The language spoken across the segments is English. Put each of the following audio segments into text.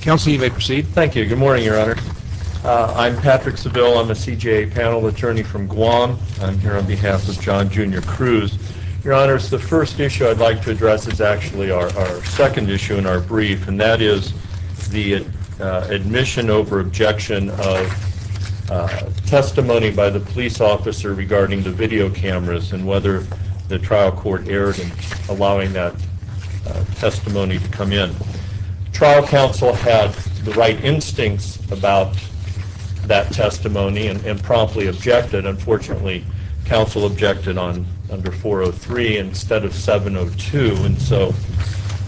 Council, you may proceed. Thank you. Good morning, Your Honor. I'm Patrick Seville. I'm a CJA panel attorney from Guam. I'm here on behalf of John Jr. Cruz. Your Honor, the first issue I'd like to address is actually our second issue in our brief, and that is the admission over objection of testimony by the police officer regarding the video cameras and whether the trial court erred in allowing that testimony to come in. Trial counsel had the right instincts about that testimony and promptly objected. Unfortunately, counsel objected under 403 instead of 702, and so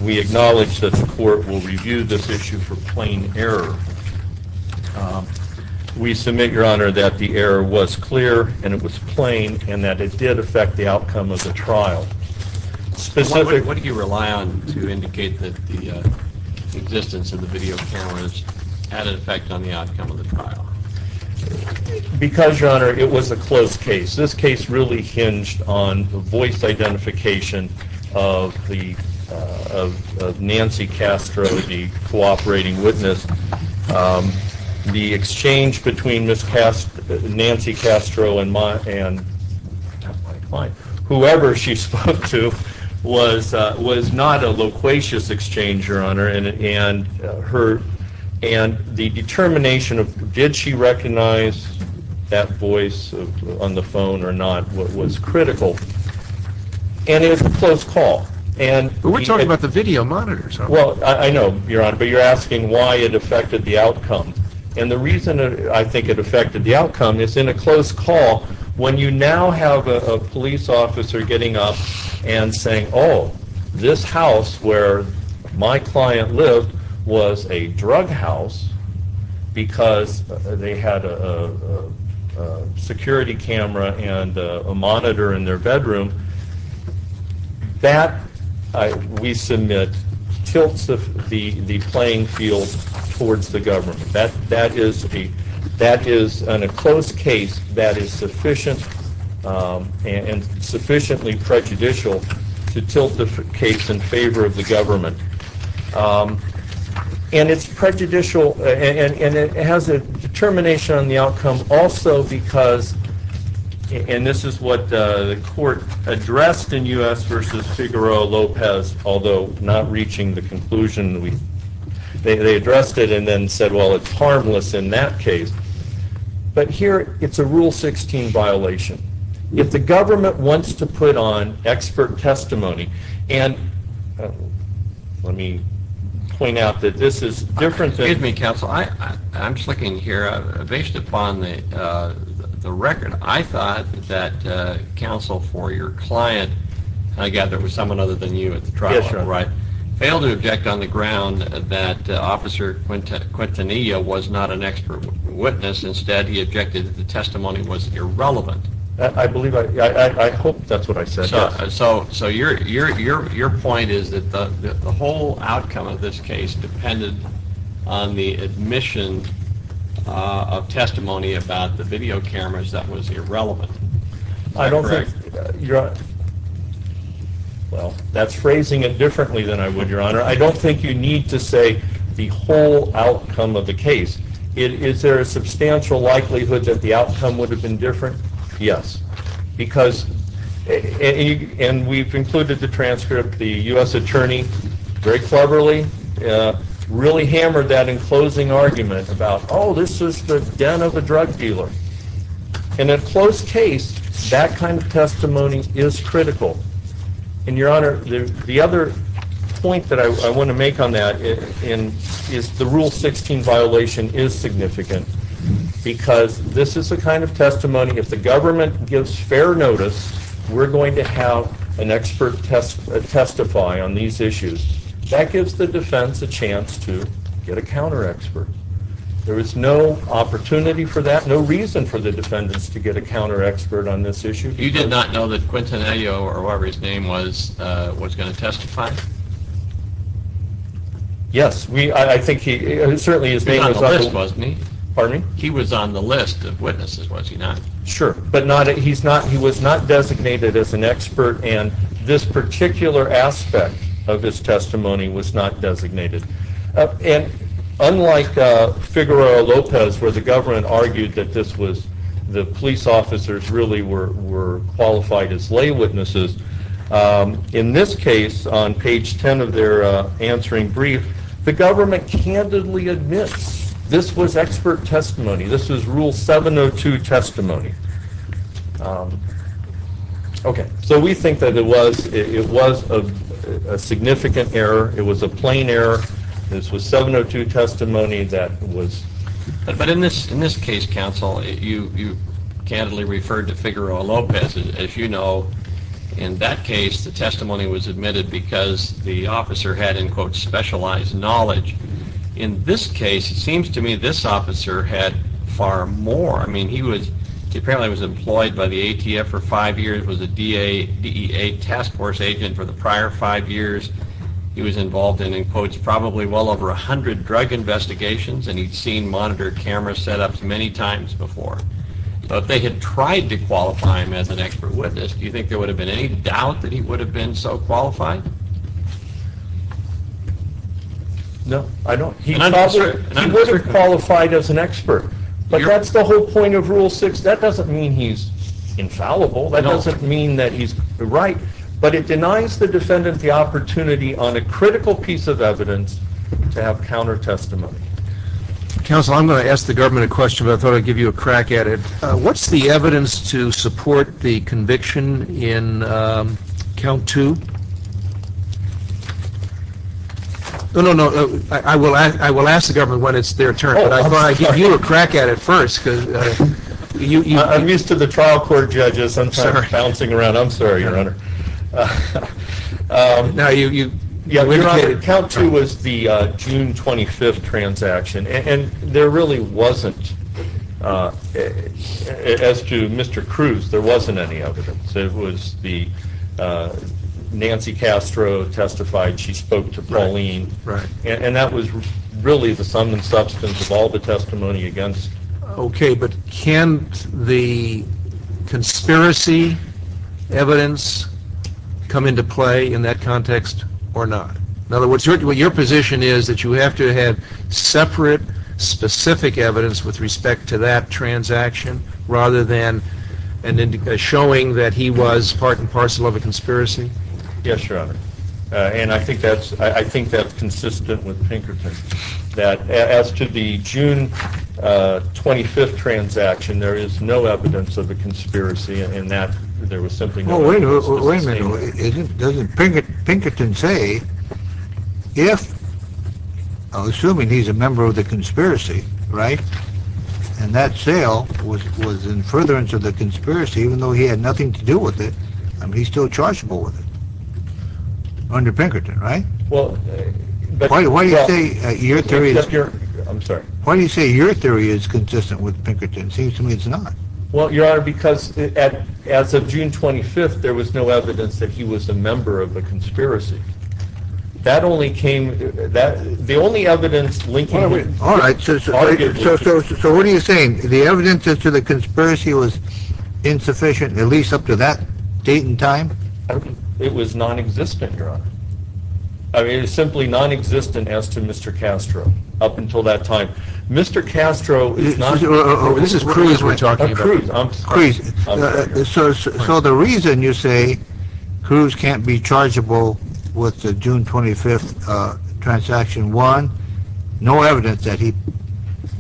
we acknowledge that the court will review this issue for plain error. We submit, Your Honor, that the error was clear and it was plain and that it did affect the outcome of the trial. What do you rely on to indicate that the existence of the video cameras had an effect on the outcome of the trial? Because, Your Honor, it was a close case. This case really hinged on the voice identification of Nancy Castro, the cooperating witness. The exchange between Nancy Castro and whoever she spoke to was not a loquacious exchange, Your Honor, and the determination of did she recognize that voice on the phone or not was critical, and it was a close call. But we're talking about the video monitors, aren't we? Well, I know, Your Honor, but you're asking why it affected the outcome, and the reason I think it affected the outcome is in a close call, when you now have a police officer getting up and saying, oh, this house where my client lived was a drug house because they had a security camera and a monitor in their bedroom, that, we submit, tilts the playing field towards the government. That is, in a close case, that is sufficient and sufficiently prejudicial to tilt the case in favor of the government, and it's prejudicial, and it has a determination on the outcome also because, and this is what the court addressed in U.S. v. Figueroa-Lopez, although not reaching the conclusion, they addressed it and then said, well, it's harmless in that case. But here, it's a Rule 16 violation. If the government wants to put on expert testimony, and let me point out that this is different than... For the record, I thought that counsel for your client, and I gather it was someone other than you at the trial level, right, failed to object on the ground that Officer Quintanilla was not an expert witness. Instead, he objected that the testimony was irrelevant. I believe, I hope that's what I said, yes. So your point is that the whole outcome of this case depended on the admission of testimony about the video cameras that was irrelevant. I don't think... Well, that's phrasing it differently than I would, Your Honor. I don't think you need to say the whole outcome of the case. Is there a substantial likelihood that the outcome would have been different? Yes. Because... And we've included the transcript. The U.S. Attorney, Greg Cleverly, really hammered that in closing argument about, oh, this is the den of a drug dealer. In a closed case, that kind of testimony is critical. And, Your Honor, the other point that I want to make on that is the Rule 16 violation is significant. Because this is the kind of testimony, if the government gives fair notice, we're going to have an expert testify on these issues. That gives the defense a chance to get a counter-expert. There is no opportunity for that, no reason for the defendants to get a counter-expert on this issue. You did not know that Quintanilla, or whatever his name was, was going to testify? Yes. He was on the list, wasn't he? Pardon me? He was on the list of witnesses, was he not? Sure. But he was not designated as an expert, and this particular aspect of his testimony was not designated. And unlike Figueroa Lopez, where the government argued that the police officers really were qualified as lay witnesses, in this case, on page 10 of their answering brief, the government candidly admits this was expert testimony. This was Rule 702 testimony. Okay, so we think that it was a significant error. It was a plain error. This was 702 testimony that was- But in this case, counsel, you candidly referred to Figueroa Lopez. As you know, in that case, the testimony was admitted because the officer had, in quote, specialized knowledge. In this case, it seems to me this officer had far more. I mean, he apparently was employed by the ATF for five years, was a DEA task force agent for the prior five years. He was involved in, in quotes, probably well over 100 drug investigations, and he'd seen monitored camera setups many times before. So if they had tried to qualify him as an expert witness, do you think there would have been any doubt that he would have been so qualified? No, I don't. He would have qualified as an expert. But that's the whole point of Rule 6. That doesn't mean he's infallible. That doesn't mean that he's right. But it denies the defendant the opportunity on a critical piece of evidence to have counter testimony. Counsel, I'm going to ask the government a question, but I thought I'd give you a crack at it. What's the evidence to support the conviction in Count 2? No, no, no. I will ask the government when it's their turn, but I thought I'd give you a crack at it first. I'm used to the trial court judges bouncing around. I'm sorry, Your Honor. No, you're on it. Count 2 was the June 25th transaction, and there really wasn't, as to Mr. Cruz, there wasn't any evidence. It was the Nancy Castro testified. She spoke to Pauline. And that was really the sum and substance of all the testimony against. Okay, but can the conspiracy evidence come into play in that context or not? In other words, your position is that you have to have separate, specific evidence with respect to that transaction rather than showing that he was part and parcel of a conspiracy? Yes, Your Honor. And I think that's consistent with Pinkerton. As to the June 25th transaction, there is no evidence of a conspiracy in that there was something going on. Wait a minute. Doesn't Pinkerton say, if, I'm assuming he's a member of the conspiracy, right? And that sale was in furtherance of the conspiracy, even though he had nothing to do with it, he's still chargeable with it. Under Pinkerton, right? Why do you say your theory is consistent with Pinkerton's? It seems to me it's not. Well, Your Honor, because as of June 25th, there was no evidence that he was a member of the conspiracy. That only came, the only evidence linking... Alright, so what are you saying? The evidence as to the conspiracy was insufficient, at least up to that date and time? It was nonexistent, Your Honor. It was simply nonexistent as to Mr. Castro, up until that time. Mr. Castro is not... This is Cruz we're talking about. Cruz. So the reason you say Cruz can't be chargeable with the June 25th transaction, one, no evidence that he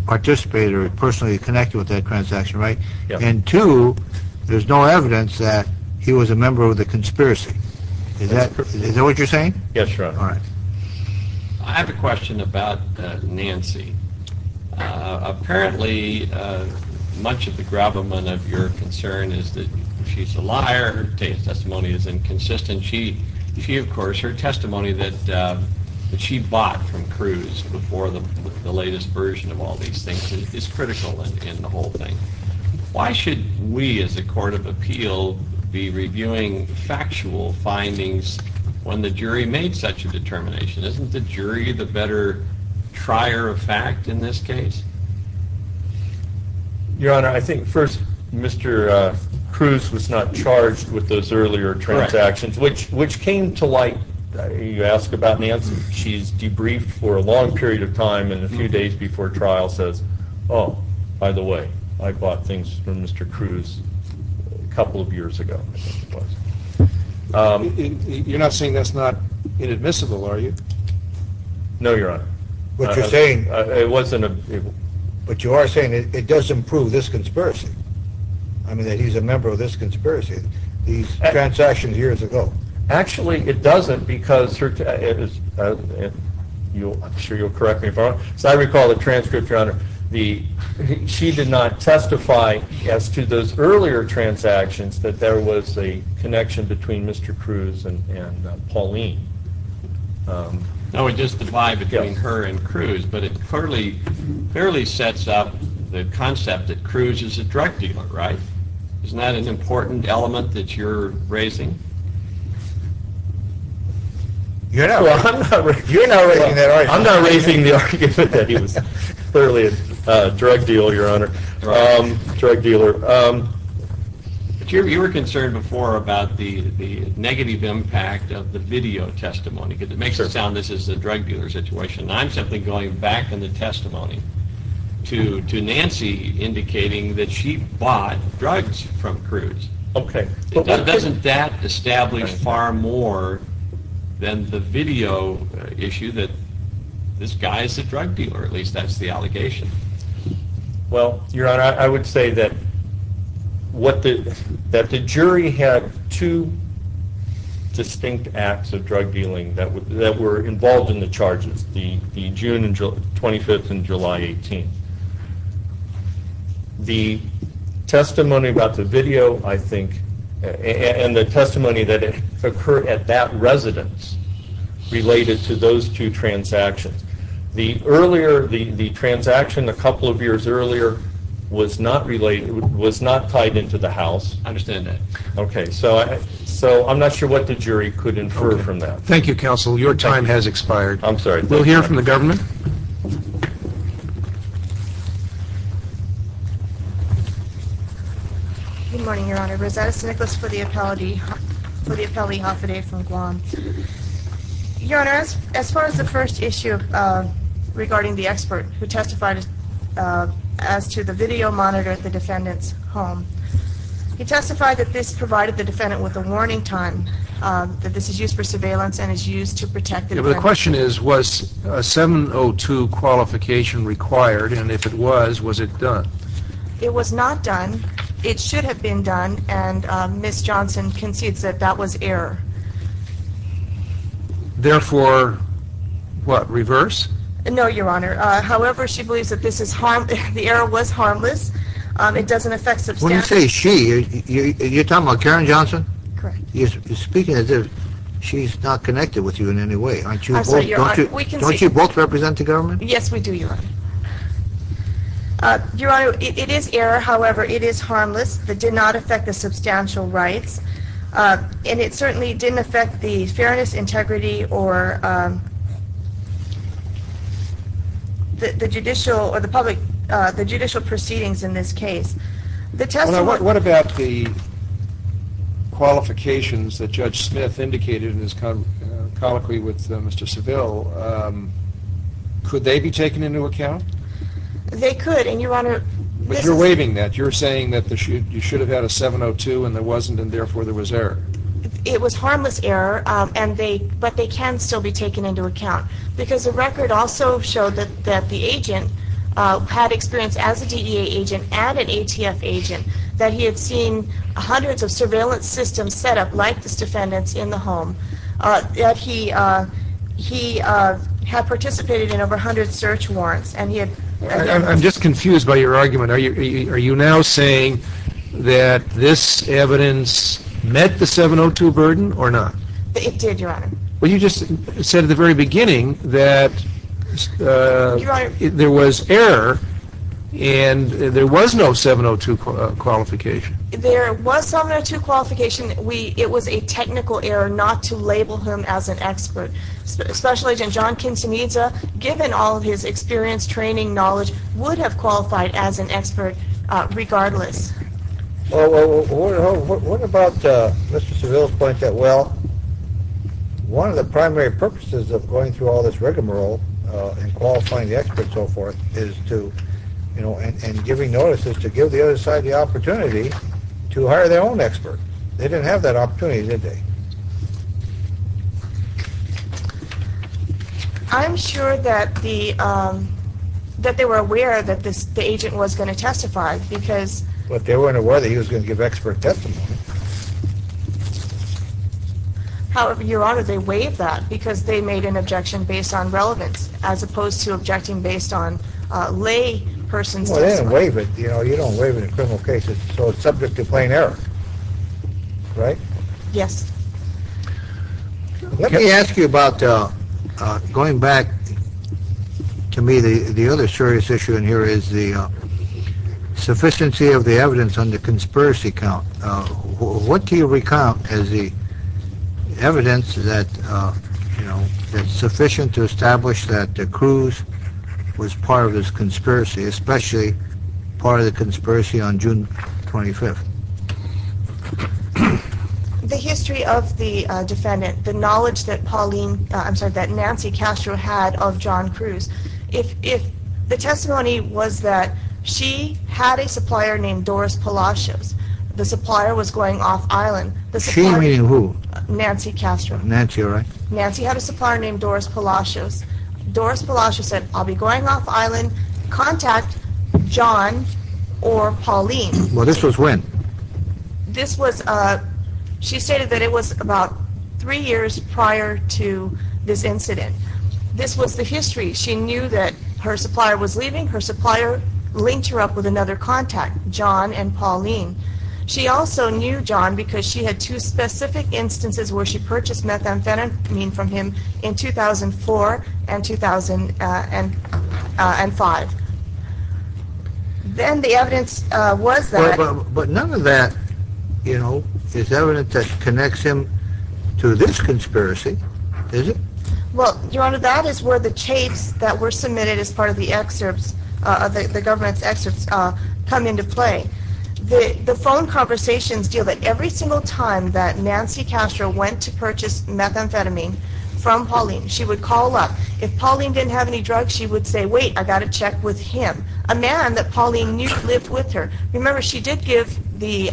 participated or personally connected with that transaction, right? And two, there's no evidence that he was a member of the conspiracy. Is that what you're saying? Yes, Your Honor. Alright. I have a question about Nancy. Apparently, much of the gravamen of your concern is that she's a liar, her testimony is inconsistent. She, of course, her testimony that she bought from Cruz before the latest version of all these things is critical in the whole thing. Why should we, as a court of appeal, be reviewing factual findings when the jury made such a determination? Isn't the jury the better trier of fact in this case? Your Honor, I think first, Mr. Cruz was not charged with those earlier transactions, which came to light... You ask about Nancy. She's debriefed for a long period of time and a few days before trial says, oh, by the way, I bought things from Mr. Cruz a couple of years ago. You're not saying that's not inadmissible, are you? No, Your Honor. What you're saying... It wasn't... But you are saying it does improve this conspiracy. I mean, that he's a member of this conspiracy. These transactions years ago. Actually, it doesn't because... I'm sure you'll correct me if I'm wrong. As I recall the transcript, Your Honor, she did not testify as to those earlier transactions that there was a connection between Mr. Cruz and Pauline. No, we just divide between her and Cruz, but it fairly sets up the concept that Cruz is a drug dealer, right? Isn't that an important element that you're raising? You're not raising that argument. I'm not raising the argument that he was clearly a drug dealer, Your Honor. You were concerned before about the negative impact of the video testimony because it makes it sound this is a drug dealer situation. I'm simply going back in the testimony to Nancy indicating that she bought drugs from Cruz. Okay. Doesn't that establish far more than the video issue that this guy is a drug dealer? At least that's the allegation. Well, Your Honor, I would say that the jury had two distinct acts of drug dealing that were involved in the charges, the June 25th and July 18th. The testimony about the video, I think, and the testimony that occurred at that residence related to those two transactions. The transaction a couple of years earlier was not tied into the house. I understand that. Okay. So, I'm not sure what the jury could infer from that. Thank you, Counsel. Your time has expired. I'm sorry. We'll hear from the government. Good morning, Your Honor. Rosetta St. Nicholas for the Appellate Office from Guam. Your Honor, as far as the first issue regarding the expert who testified as to the video monitor at the defendant's home, he testified that this provided the defendant with a warning time, that this is used for surveillance and is used to protect the defendant. Yeah, but the question is, was a 702 qualification required, and if it was, was it done? It was not done. It should have been done, and Ms. Johnson concedes that that was error. Therefore, what, reverse? No, Your Honor. However, she believes that the error was harmless. It doesn't affect substantive. When you say she, you're talking about Karen Johnson? Correct. You're speaking as if she's not connected with you in any way. I'm sorry, Your Honor. Don't you both represent the government? Yes, we do, Your Honor. Your Honor, it is error. However, it is harmless. It did not affect the substantial rights, and it certainly didn't affect the fairness, integrity, or the judicial, or the public, the judicial proceedings in this case. What about the qualifications that Judge Smith indicated in his colloquy with Mr. Seville? Could they be taken into account? They could, and Your Honor, this is... But you're waiving that. You're saying that you should have had a 702, and there wasn't, and therefore there was error. It was harmless error, but they can still be taken into account, because the record also showed that the agent had experience as a DEA agent and an ATF agent, that he had seen hundreds of surveillance systems set up like this defendant's in the home, that he had participated in over 100 search warrants, and he had... I'm just confused by your argument. Are you now saying that this evidence met the 702 burden or not? It did, Your Honor. Well, you just said at the very beginning that there was error, and there was no 702 qualification. There was 702 qualification. It was a technical error not to label him as an expert. Special Agent John Quintanilla, given all of his experience, training, knowledge, would have qualified as an expert regardless. Well, what about Mr. Seville's point that, well, one of the primary purposes of going through all this rigmarole and qualifying the expert and so forth is to, you know, and giving notices to give the other side the opportunity to hire their own expert. They didn't have that opportunity, did they? I'm sure that they were aware that the agent was going to testify, because... But they weren't aware that he was going to give expert testimony. However, Your Honor, they waived that because they made an objection based on relevance, as opposed to objecting based on lay person's testimony. Well, they didn't waive it. You know, you don't waive it in criminal cases. So it's subject to plain error, right? Yes. Let me ask you about, going back to me, the other serious issue in here is the sufficiency of the evidence on the conspiracy count. What do you recount as the evidence that, you know, sufficient to establish that Cruz was part of this conspiracy, especially part of the conspiracy on June 25th? The history of the defendant, the knowledge that Pauline, I'm sorry, that Nancy Castro had of John Cruz, if the testimony was that she had a supplier named Doris Palacios, the supplier was going off island... She meaning who? Nancy Castro. Nancy, you're right. Nancy had a supplier named Doris Palacios. Doris Palacios said, I'll be going off island, contact John or Pauline. Well, this was when? This was, she stated that it was about three years prior to this incident. This was the history. She knew that her supplier was leaving. Her supplier linked her up with another contact, John and Pauline. She also knew John because she had two specific instances where she purchased methamphetamine from him in 2004 and 2005. Then the evidence was that... But none of that, you know, is evidence that connects him to this conspiracy, is it? Well, Your Honor, that is where the tapes that were submitted as part of the excerpts, the government's excerpts, come into play. The phone conversations deal that every single time that Nancy Castro went to purchase methamphetamine from Pauline, she would call up. If Pauline didn't have any drugs, she would say, wait, I got a check with him, a man that Pauline knew lived with her. Remember, she did give the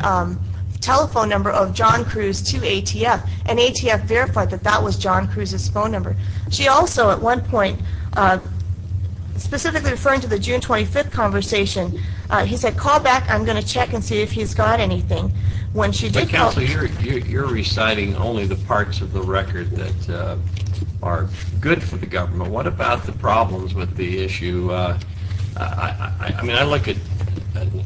telephone number of John Cruz to ATF, and ATF verified that that was John Cruz's phone number. She also, at one point, specifically referring to the June 25th conversation, he said, call back. I'm going to check and see if he's got anything. But counsel, you're reciting only the parts of the record that are good for the government. Well, what about the problems with the issue? I mean, I look at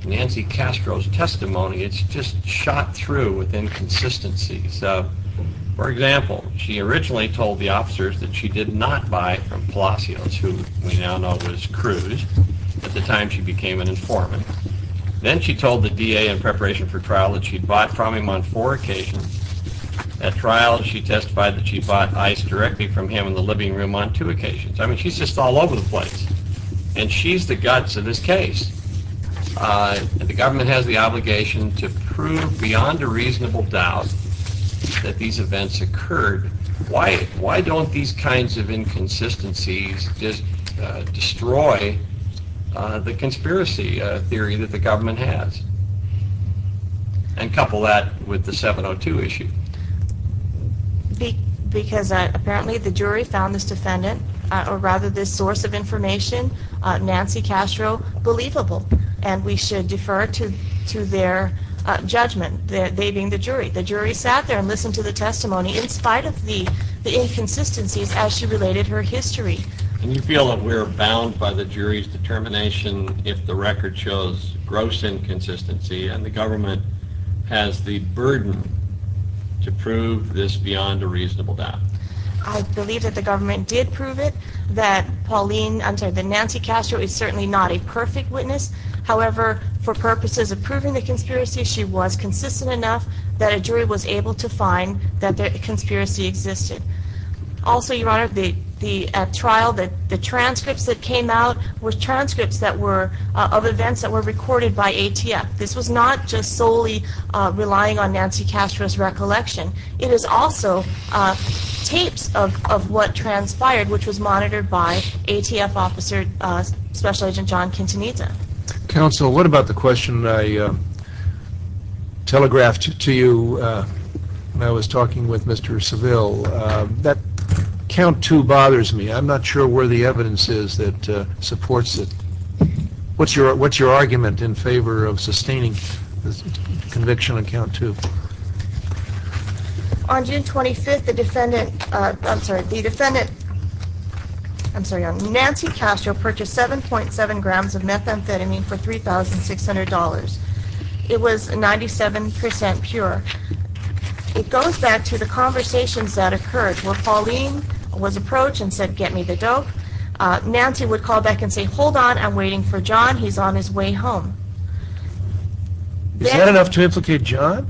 Nancy Castro's testimony. It's just shot through with inconsistency. So, for example, she originally told the officers that she did not buy from Palacios, who we now know was Cruz. At the time, she became an informant. Then she told the DA in preparation for trial that she'd bought from him on four occasions. At trial, she testified that she bought ice directly from him in the living room on two occasions. I mean, she's just all over the place, and she's the guts of this case. The government has the obligation to prove beyond a reasonable doubt that these events occurred. Why don't these kinds of inconsistencies just destroy the conspiracy theory that the government has? And couple that with the 702 issue. Because apparently the jury found this source of information, Nancy Castro, believable. And we should defer to their judgment, they being the jury. The jury sat there and listened to the testimony in spite of the inconsistencies as she related her history. Do you feel that we're bound by the jury's determination if the record shows gross inconsistency and the government has the burden to prove this beyond a reasonable doubt? I believe that the government did prove it, that Pauline, I'm sorry, that Nancy Castro is certainly not a perfect witness. However, for purposes of proving the conspiracy, she was consistent enough that a jury was able to find that the conspiracy existed. Also, Your Honor, at trial, the transcripts that came out were transcripts of events that were recorded by ATF. This was not just solely relying on Nancy Castro's recollection. It is also tapes of what transpired, which was monitored by ATF officer, Special Agent John Quintanilla. Counsel, what about the question I telegraphed to you when I was talking with Mr. Seville? That count two bothers me. I'm not sure where the evidence is that supports it. What's your argument in favor of sustaining conviction on count two? On June 25th, the defendant, I'm sorry, the defendant, I'm sorry, Nancy Castro purchased 7.7 grams of methamphetamine for $3,600. It was 97% pure. It goes back to the conversations that occurred where Pauline was approached and said, get me the dope. Nancy would call back and say, hold on, I'm waiting for John. He's on his way home. Is that enough to implicate John?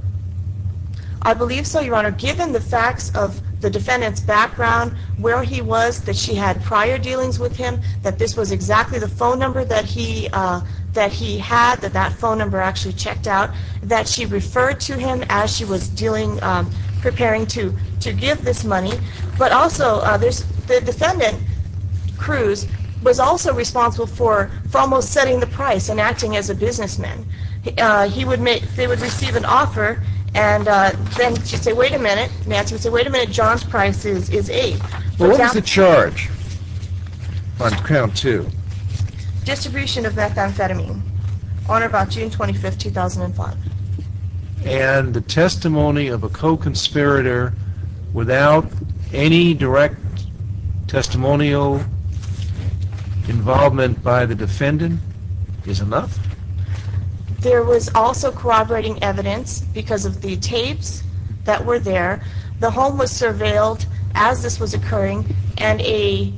I believe so, Your Honor. Given the facts of the defendant's background, where he was, that she had prior dealings with him, that this was exactly the phone number that he had, that that phone number actually checked out, that she referred to him as she was preparing to give this money. But also, the defendant, Cruz, was also responsible for almost setting the price and acting as a businessman. He would make, they would receive an offer and then she'd say, wait a minute, Nancy would say, wait a minute, John's price is 8. What was the charge on count two? Distribution of methamphetamine on or about June 25th, 2005. And the testimony of a co-conspirator without any direct testimonial involvement by the defendant is enough? There was also corroborating evidence because of the tapes that were there. The home was surveilled as this was occurring and a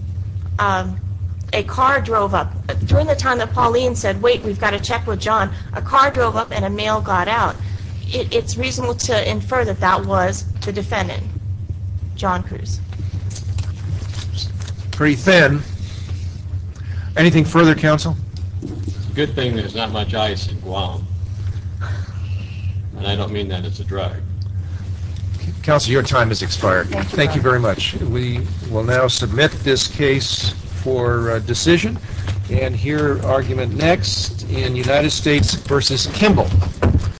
car drove up. During the time that Pauline said, wait, we've got to check with John, a car drove up and a mail got out. It's reasonable to infer that that was the defendant, John Cruz. Pretty thin. Anything further, Counsel? Good thing there's not much ice in Guam. And I don't mean that as a drag. Counsel, your time has expired. Thank you very much. We will now submit this case for decision and hear argument next in United States v. Kimball.